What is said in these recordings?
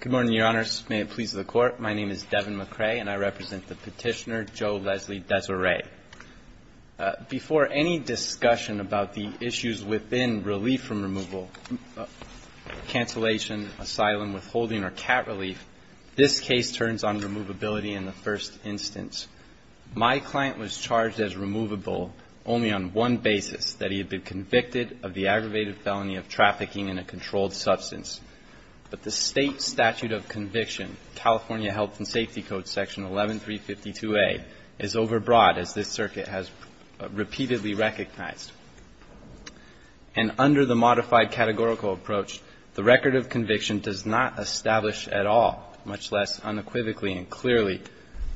Good morning, Your Honors. May it please the Court, my name is Devin McRae, and I represent the petitioner Joe Leslie Desiree. Before any discussion about the issues within relief from removal, cancellation, asylum, withholding, or cat relief, this case turns on removability in the first instance. My client was charged as removable only on one basis, that he had been convicted of the aggravated felony of trafficking in a controlled substance. But the State Statute of Conviction, California Health and Safety Code Section 11352A, is overbroad, as this circuit has repeatedly recognized. And under the modified categorical approach, the record of conviction does not establish at all, much less unequivocally and clearly,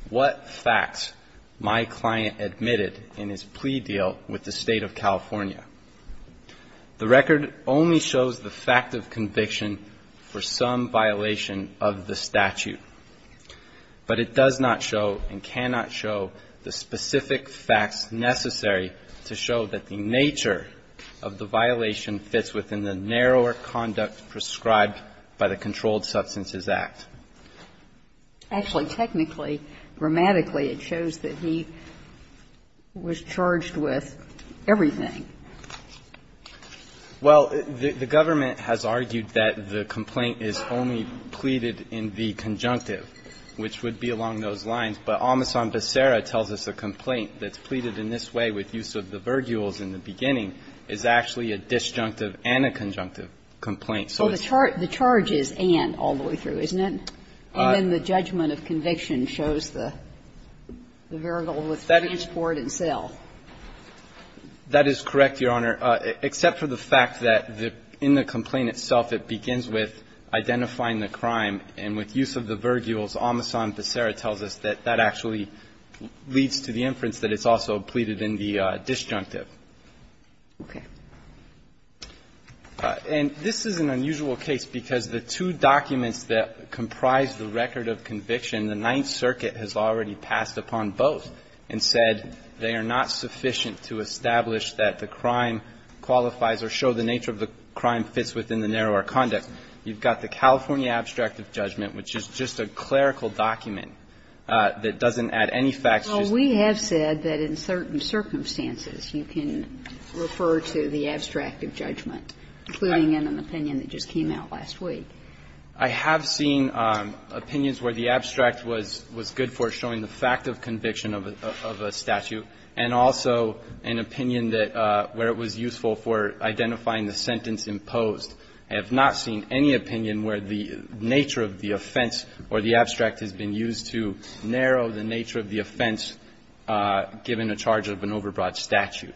what facts my client admitted in his plea deal with the State of California. The record only shows the fact of conviction for some violation of the statute, but it does not show and cannot show the specific facts necessary to show that the nature of the violation fits within the narrower conduct prescribed by the Controlled Substances Act. Actually, technically, grammatically, it shows that he was charged with everything. Well, the government has argued that the complaint is only pleaded in the conjunctive, which would be along those lines. But Omison Becerra tells us a complaint that's pleaded in this way, with use of the virgules in the beginning, is actually a disjunctive and a conjunctive complaint. So the charge is and all the way through, isn't it? And then the judgment of conviction shows the virgule with transport and sale. That is correct, Your Honor, except for the fact that in the complaint itself, it begins with identifying the crime, and with use of the virgules, Omison Becerra tells us that that actually leads to the inference that it's also pleaded in the disjunctive. Okay. And this is an unusual case because the two documents that comprise the record of conviction, the Ninth Circuit has already passed upon both and said they are not sufficient to establish that the crime qualifies or show the nature of the crime fits within the narrower conduct. You've got the California abstract of judgment, which is just a clerical document that doesn't add any facts. Well, we have said that in certain circumstances, you can refer to the abstract of judgment, including in an opinion that just came out last week. I have seen opinions where the abstract was good for showing the fact of conviction of a statute, and also an opinion that where it was useful for identifying the sentence imposed. I have not seen any opinion where the nature of the offense or the abstract has been used to narrow the nature of the offense given a charge of an overbroad statute.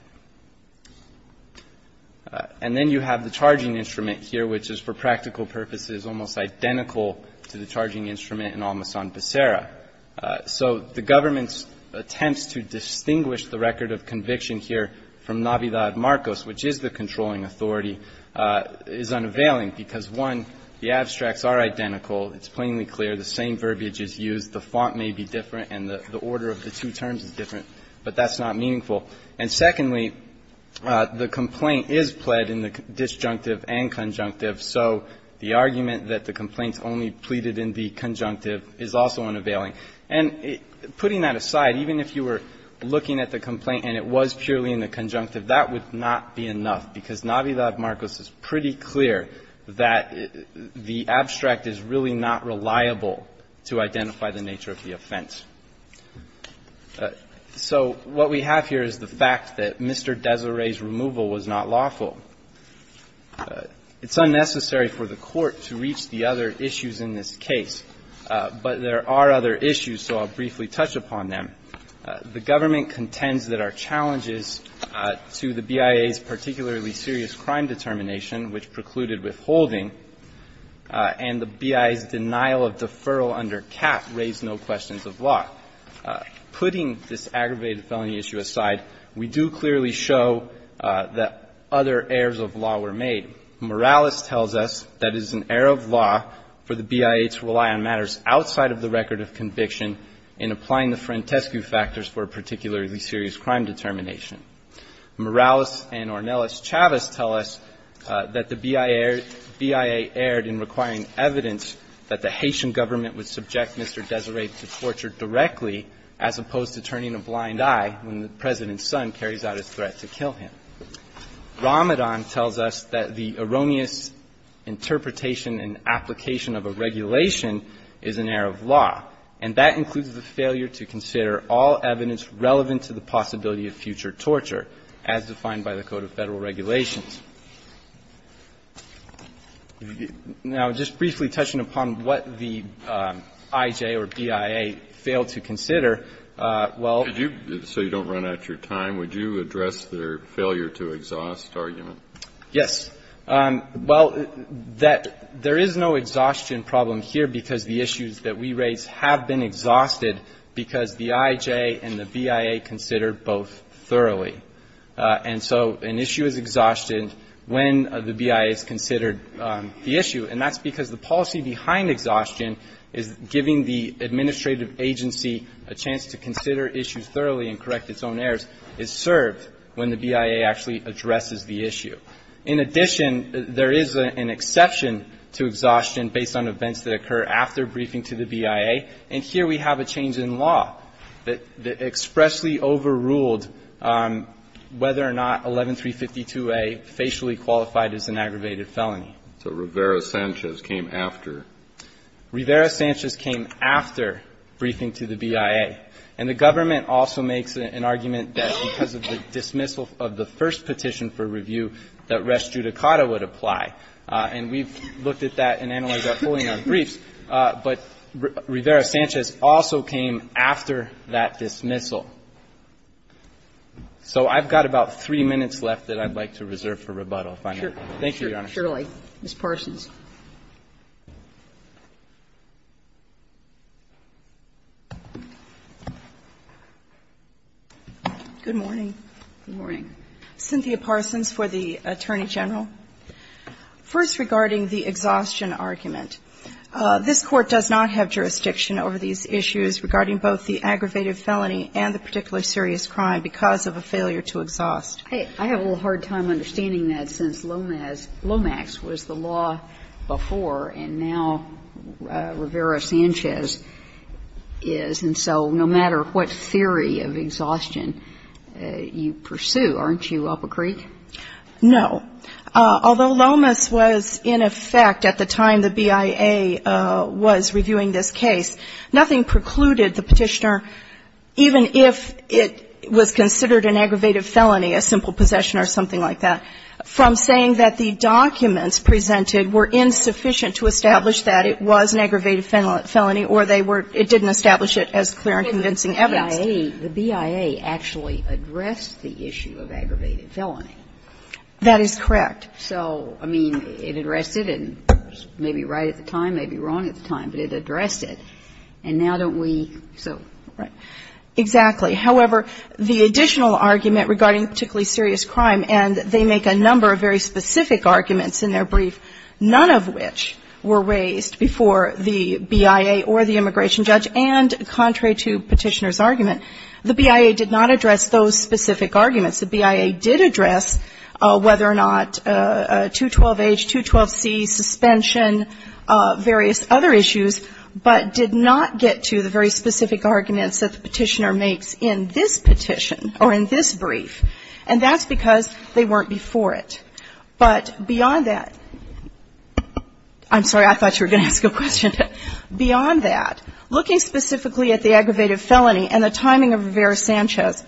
And then you have the charging instrument here, which is for practical purposes almost identical to the charging instrument in Omison Becerra. So the government's attempts to distinguish the record of conviction here from Navidad Marcos, which is the controlling authority, is unavailing because, one, the abstracts are identical, it's plainly clear, the same verbiage is used, the font may be different, and the order of the two terms is different, but that's not meaningful. And secondly, the complaint is pled in the disjunctive and conjunctive. So the argument that the complaint's only pleaded in the conjunctive is also unavailing. And putting that aside, even if you were looking at the complaint and it was purely in the conjunctive, that would not be enough, because Navidad Marcos is pretty clear that the abstract is really not reliable to identify the nature of the offense. So what we have here is the fact that Mr. Deseret's removal was not lawful. It's unnecessary for the Court to reach the other issues in this case, but there are other issues, so I'll briefly touch upon them. The government contends that our challenges to the BIA's particularly serious crime determination, which precluded withholding, and the BIA's denial of deferral under CAP raised no questions of law. Putting this aggravated felony issue aside, we do clearly show that other errors of law were made. Morales tells us that it is an error of law for the BIA to rely on matters outside of the record of conviction in applying the frantescu factors for a particularly serious crime determination. Morales and Ornelas-Chavez tell us that the BIA erred in requiring evidence that the Haitian government would subject Mr. Deseret to torture directly as opposed to turning a blind eye when the President's son carries out his threat to kill him. Ramadan tells us that the erroneous interpretation and application of a regulation is an error of law, and that includes the failure to consider all evidence relevant to the possibility of future torture, as defined by the Code of Federal Regulations. Now, just briefly touching upon what the IJ or BIA failed to consider, well So you don't run out of your time, would you address their failure to exhaust argument? Yes. Well, there is no exhaustion problem here because the issues that we raise have been considered both thoroughly, and so an issue is exhausted when the BIA is considered the issue, and that's because the policy behind exhaustion is giving the administrative agency a chance to consider issues thoroughly and correct its own errors is served when the BIA actually addresses the issue. In addition, there is an exception to exhaustion based on events that occur after briefing to the BIA, and here we have a change in law that expressly overruled whether or not 11352a facially qualified is an aggravated felony. So Rivera-Sanchez came after? Rivera-Sanchez came after briefing to the BIA. And the government also makes an argument that because of the dismissal of the first petition for review that res judicata would apply. And we've looked at that and analyzed that fully in our briefs, but Rivera-Sanchez also came after that dismissal. So I've got about three minutes left that I'd like to reserve for rebuttal. Thank you, Your Honor. Surely, Ms. Parsons. Good morning. Good morning. Cynthia Parsons for the Attorney General. First, regarding the exhaustion argument, this Court does not have jurisdiction over these issues regarding both the aggravated felony and the particularly serious crime because of a failure to exhaust. I have a little hard time understanding that since Lomax was the law before and now Rivera-Sanchez is, and so no matter what theory of exhaustion you pursue, aren't you up a creek? No. Although Lomax was in effect at the time the BIA was reviewing this case, nothing precluded the Petitioner, even if it was considered an aggravated felony, a simple possession or something like that, from saying that the documents presented were insufficient to establish that it was an aggravated felony or they were – it didn't establish it as clear and convincing evidence. The BIA actually addressed the issue of aggravated felony. That is correct. So, I mean, it addressed it, and maybe right at the time, maybe wrong at the time, but it addressed it. And now don't we – so, right. Exactly. However, the additional argument regarding particularly serious crime, and they make a number of very specific arguments in their brief, none of which were raised before the BIA or the immigration judge, and contrary to Petitioner's argument, the BIA did not address those specific arguments. The BIA did address whether or not 212H, 212C, suspension, various other issues, but did not get to the very specific arguments that the Petitioner makes in this petition or in this brief, and that's because they weren't before it. But beyond that – I'm sorry. I thought you were going to ask a question. Beyond that, looking specifically at the aggravated felony and the timing of Rivera-Sanchez,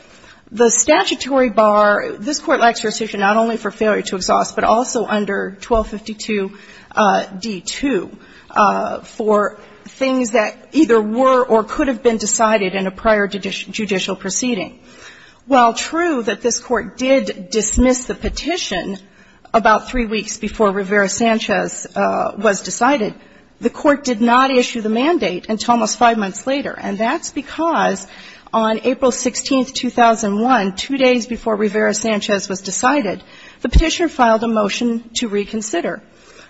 the statutory bar – this Court lacks jurisdiction not only for failure to exhaust, but also under 1252d2 for things that either were or could have been decided in a prior judicial proceeding. While true that this Court did dismiss the petition about three weeks before Rivera-Sanchez was decided, the Court did not issue the mandate until almost five months later, and that's because on April 16, 2001, two days before Rivera-Sanchez was decided, the Petitioner filed a motion to reconsider.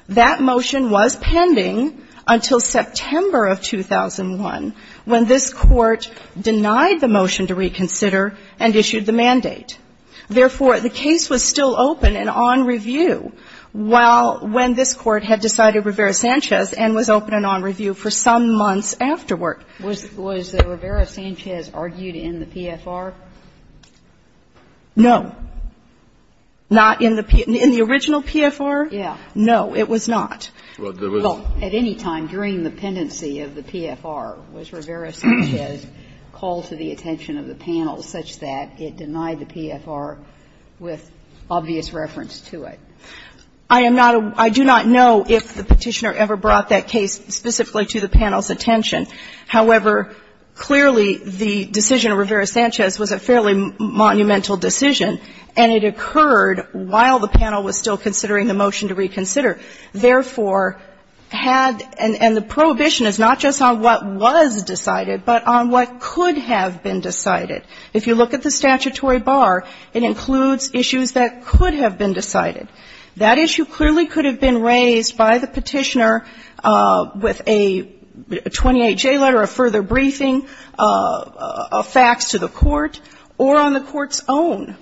That motion was pending until September of 2001, when this Court denied the motion to reconsider and issued the mandate. Therefore, the case was still open and on review while – when this Court had decided Rivera-Sanchez and was open and on review for some months afterward. Sotomayor was the Rivera-Sanchez argued in the PFR? No. Not in the original PFR? Yeah. No, it was not. Well, there was not. Well, at any time during the pendency of the PFR, was Rivera-Sanchez called to the attention of the panel such that it denied the PFR with obvious reference to it? I am not a – I do not know if the Petitioner ever brought that case specifically to the panel's attention. However, clearly, the decision of Rivera-Sanchez was a fairly monumental decision, and it occurred while the panel was still considering the motion to reconsider. Therefore, had – and the prohibition is not just on what was decided, but on what could have been decided. If you look at the statutory bar, it includes issues that could have been decided. That issue clearly could have been raised by the Petitioner with a 28-J letter, a further briefing, a fax to the Court, or on the Court's own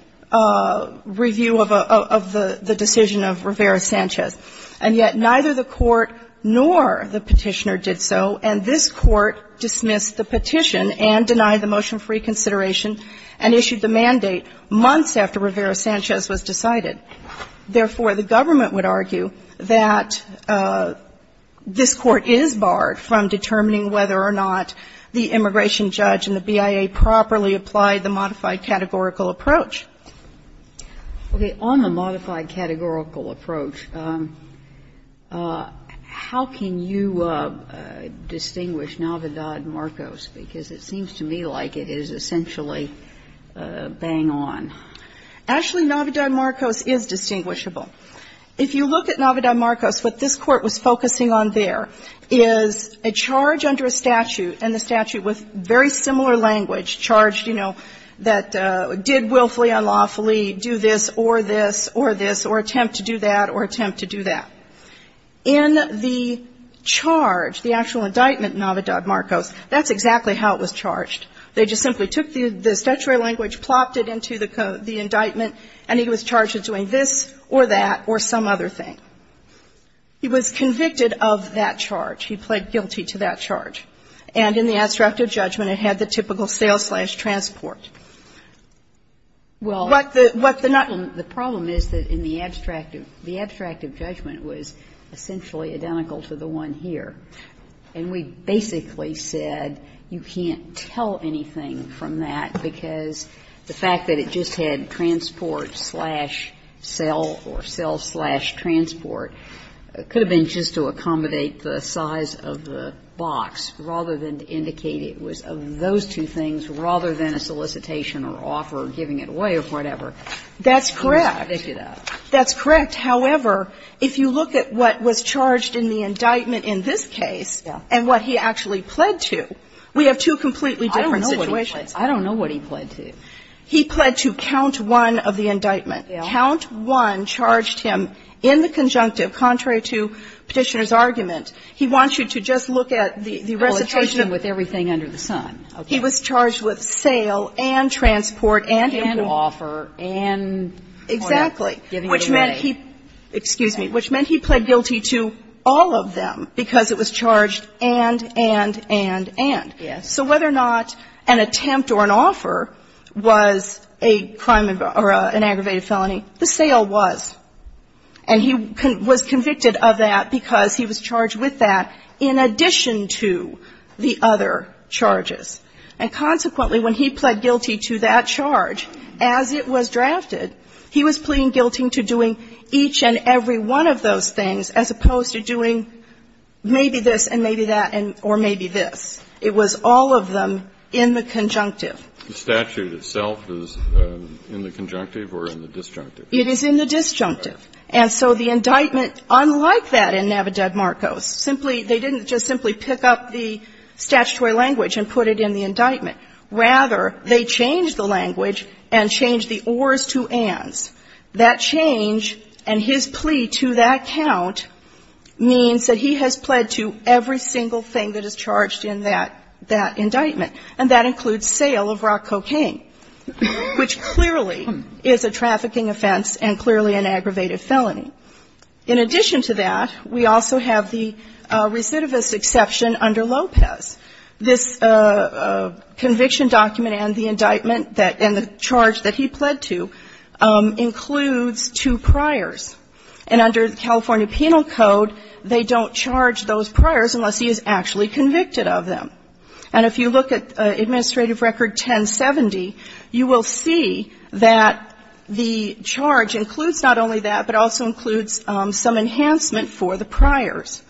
review of a – of the decision of Rivera-Sanchez. And yet neither the Court nor the Petitioner did so, and this Court dismissed the Petition and denied the motion for reconsideration and issued the mandate months after Rivera-Sanchez was decided. Therefore, the government would argue that this Court is barred from determining whether or not the immigration judge and the BIA properly applied the modified categorical approach. Okay. On the modified categorical approach, how can you distinguish Navidad-Marcos? Because it seems to me like it is essentially bang on. Actually, Navidad-Marcos is distinguishable. If you look at Navidad-Marcos, what this Court was focusing on there is a charge under a statute, and the statute with very similar language, charged, you know, that did willfully, unlawfully do this or this or this or attempt to do that or attempt to do that. In the charge, the actual indictment, Navidad-Marcos, that's exactly how it was charged. They just simply took the statutory language, plopped it into the indictment, and he was charged with doing this or that or some other thing. He was convicted of that charge. He pled guilty to that charge. And in the abstract of judgment, it had the typical sales-slash-transport. Well, what the problem is that in the abstract, the abstract of judgment was essentially identical to the one here. And we basically said you can't tell anything from that, because the fact that it just had transport-slash-sale or sales-slash-transport, it could have been just to accommodate the size of the box, rather than to indicate it was of those two things, rather than a solicitation or offer or giving it away or whatever. That's correct. That's correct. However, if you look at what was charged in the indictment in this case and what he actually pled to, we have two completely different situations. I don't know what he pled to. He pled to count one of the indictment. Count one charged him in the conjunctive, contrary to Petitioner's argument. He wants you to just look at the recitation of the indictment. Well, it charged him with everything under the sun. He was charged with sale and transport and import. And offer and whatever, giving it away. Exactly, which meant he pled guilty to all of them, because it was charged and, and, and, and. Yes. So whether or not an attempt or an offer was a crime or an aggravated felony, the sale was. And he was convicted of that because he was charged with that in addition to the other charges. And consequently, when he pled guilty to that charge, as it was drafted, he was pleading guilty to doing each and every one of those things as opposed to doing maybe this and maybe that or maybe this. It was all of them in the conjunctive. The statute itself is in the conjunctive or in the disjunctive? It is in the disjunctive. And so the indictment, unlike that in Navidad-Marcos, simply, they didn't just simply pick up the statutory language and put it in the indictment. Rather, they changed the language and changed the ors to ands. That change and his plea to that count means that he has pled to every single thing that is charged in that, that indictment. And that includes sale of rock cocaine, which clearly is a trafficking offense and clearly an aggravated felony. In addition to that, we also have the recidivist exception under Lopez. This conviction document and the indictment that the charge that he pled to includes two priors. And under the California Penal Code, they don't charge those priors unless he is actually convicted of them. And if you look at Administrative Record 1070, you will see that the charge includes not only that, but also includes some enhancement for the priors.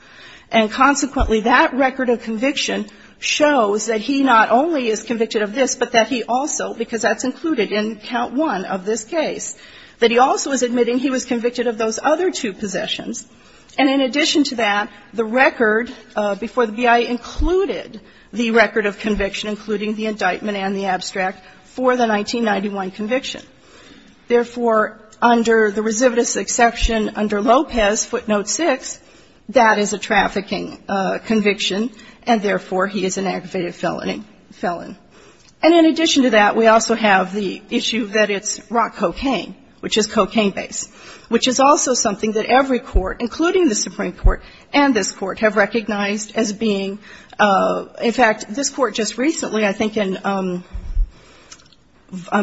And consequently, that record of conviction shows that he not only is convicted of this, but that he also, because that's included in Count 1 of this case, that he also is admitting he was convicted of those other two possessions. And in addition to that, the record before the BIA included the record of conviction, including the indictment and the abstract, for the 1991 conviction. Therefore, under the recidivist exception under Lopez, footnote 6, that is a trafficking conviction, and therefore, he is an aggravated felony felon. And in addition to that, we also have the issue that it's rock cocaine, which is cocaine based, which is also something that every court, including the Supreme Court and this Court, have recognized as being – in fact, this Court just recently, I think in – I'm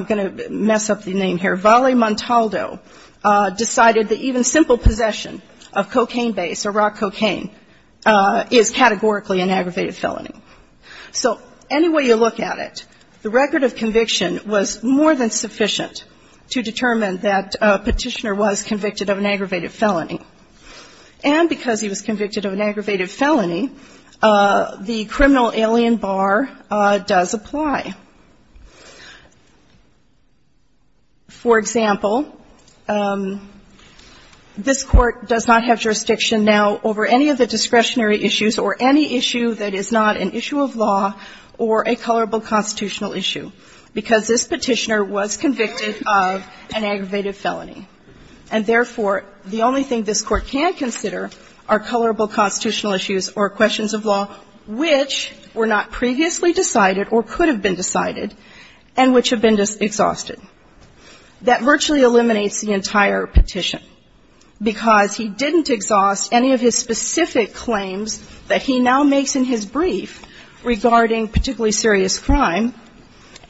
going to mess up the name here – Vale Montaldo decided that even simple possession of cocaine based or rock cocaine is categorically an aggravated felony. So any way you look at it, the record of conviction was more than sufficient to determine that a petitioner was convicted of an aggravated felony. And because he was convicted of an aggravated felony, the criminal alien bar does apply. For example, this Court does not have jurisdiction now over any of the discretionary issues or any issue that is not an issue of law or a colorable constitutional issue, because this petitioner was convicted of an aggravated felony. And therefore, the only thing this Court can consider are colorable constitutional issues or questions of law which were not previously decided or could have been exhausted. That virtually eliminates the entire petition, because he didn't exhaust any of his specific claims that he now makes in his brief regarding particularly serious crime,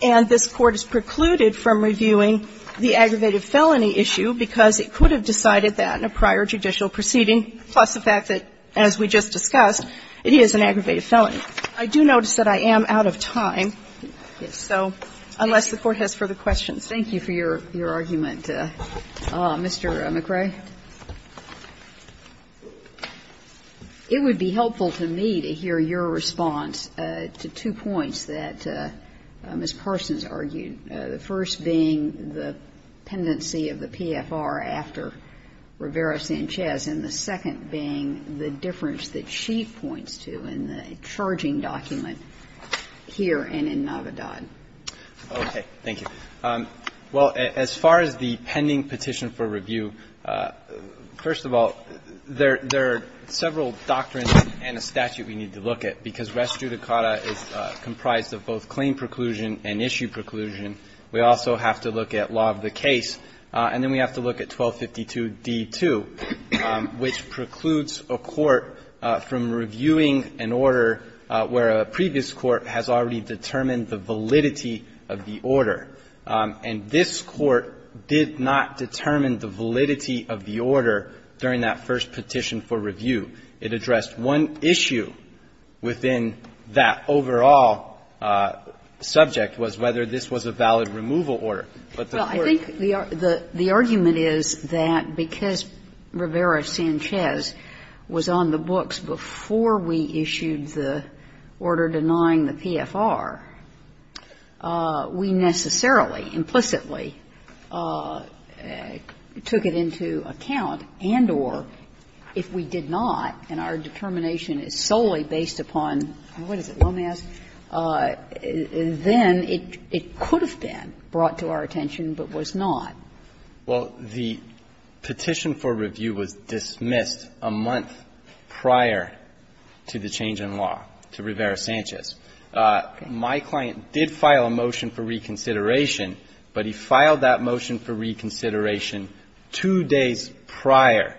and this Court is precluded from reviewing the aggravated felony issue because it could have decided that in a prior judicial proceeding, plus the fact that, as we just discussed, it is an aggravated felony. I do notice that I am out of time. So unless the Court has further questions. Thank you for your argument, Mr. McRae. It would be helpful to me to hear your response to two points that Ms. Parsons argued, the first being the pendency of the PFR after Rivera-Sanchez, and the second being the difference that she points to in the charging document here and in Navidad. Okay. Thank you. Well, as far as the pending petition for review, first of all, there are several doctrines and a statute we need to look at, because res judicata is comprised of both claim preclusion and issue preclusion. We also have to look at law of the case. And then we have to look at 1252d2, which precludes a court from reviewing an order where a previous court has already determined the validity of the order. And this Court did not determine the validity of the order during that first petition for review. It addressed one issue within that overall subject, was whether this was a valid removal order. Well, I think the argument is that because Rivera-Sanchez was on the books before we issued the order denying the PFR, we necessarily, implicitly, took it into account and or, if we did not, and our determination is solely based upon, what is it, Lomaz, then it could have been brought to our attention, but was not. Well, the petition for review was dismissed a month prior to the change in law to Rivera-Sanchez. My client did file a motion for reconsideration, but he filed that motion for reconsideration two days prior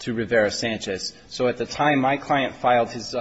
to Rivera-Sanchez. So at the time my client filed his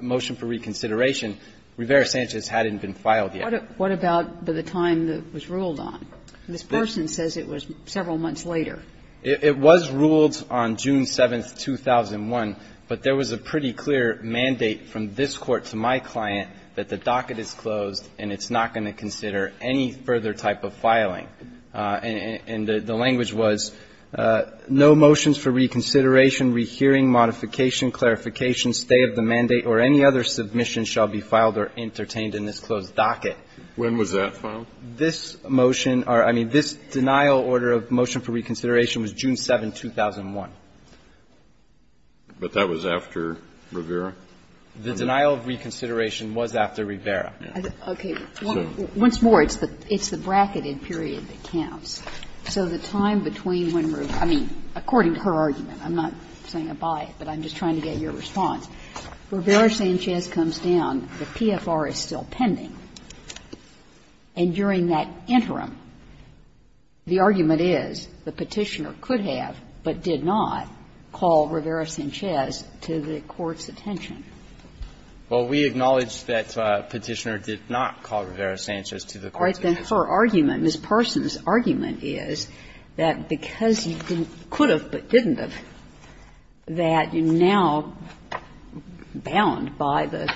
motion for reconsideration, Rivera-Sanchez hadn't been filed yet. What about the time that it was ruled on? This person says it was several months later. It was ruled on June 7, 2001, but there was a pretty clear mandate from this Court to my client that the docket is closed and it's not going to consider any further type of filing. And the language was, no motions for reconsideration, rehearing, modification, clarification, stay of the mandate, or any other submission shall be filed or entertained in this closed docket. When was that filed? This motion or, I mean, this denial order of motion for reconsideration was June 7, 2001. But that was after Rivera? The denial of reconsideration was after Rivera. Kagan. Okay. Once more, it's the bracketed period that counts. So the time between when Rivera was, I mean, according to her argument, I'm not saying I buy it, but I'm just trying to get your response. Rivera-Sanchez comes down, the PFR is still pending, and during that interim, the argument is the Petitioner could have, but did not, call Rivera-Sanchez to the Court's attention. Well, we acknowledge that Petitioner did not call Rivera-Sanchez to the Court's attention. All right. Then her argument, Ms. Parsons' argument is that because you could have, but didn't have, that you now bound by the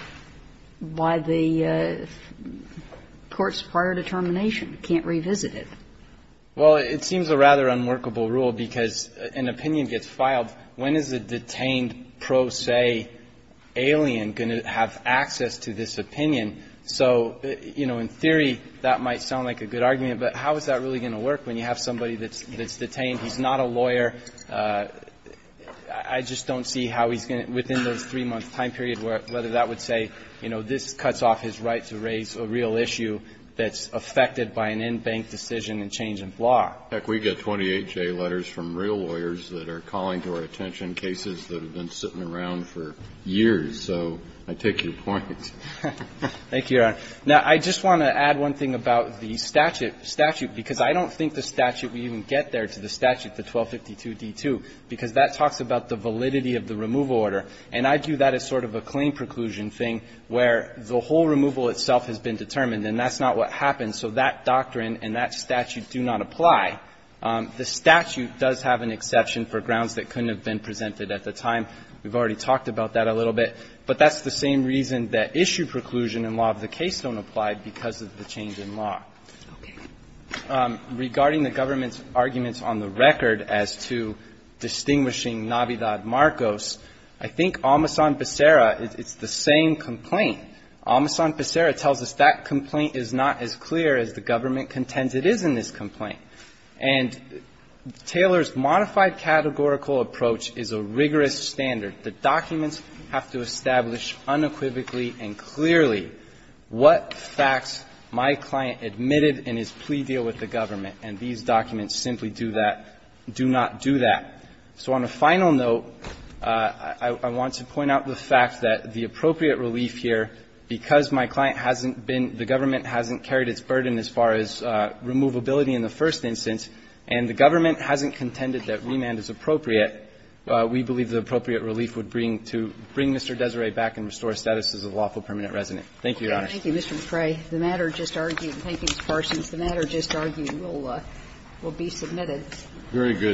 court's prior determination, can't revisit it. Well, it seems a rather unworkable rule, because an opinion gets filed, when is a detained pro se alien going to have access to this opinion? So, you know, in theory, that might sound like a good argument, but how is that really going to work when you have somebody that's detained, he's not a lawyer? I just don't see how he's going to, within those 3-month time periods, whether that would say, you know, this cuts off his right to raise a real issue that's affected by an in-bank decision and change in law. Heck, we get 28-J letters from real lawyers that are calling to our attention cases that have been sitting around for years, so I take your point. Thank you, Your Honor. Now, I just want to add one thing about the statute, because I don't think the statute will even get there to the statute, the 1252d2, because that talks about the validity of the removal order, and I view that as sort of a claim preclusion thing where the whole removal itself has been determined, and that's not what happens, so that doesn't apply. The statute does have an exception for grounds that couldn't have been presented at the time. We've already talked about that a little bit, but that's the same reason that issue preclusion in law of the case don't apply because of the change in law. Okay. Regarding the government's arguments on the record as to distinguishing Navidad Marcos, I think Almasan-Pesera, it's the same complaint. Almasan-Pesera tells us that complaint is not as clear as the government contends it is in this complaint. And Taylor's modified categorical approach is a rigorous standard. The documents have to establish unequivocally and clearly what facts my client admitted in his plea deal with the government, and these documents simply do that do not do that. So on a final note, I want to point out the fact that the appropriate relief here, because my client hasn't been the government hasn't carried its burden as far as removability in the first instance, and the government hasn't contended that remand is appropriate, we believe the appropriate relief would bring to bring Mr. Desiree back and restore status as a lawful permanent resident. Thank you, Your Honor. Thank you, Mr. McCrae. The matter just argued, thank you, Mr. Parsons, the matter just argued will be submitted. Very good.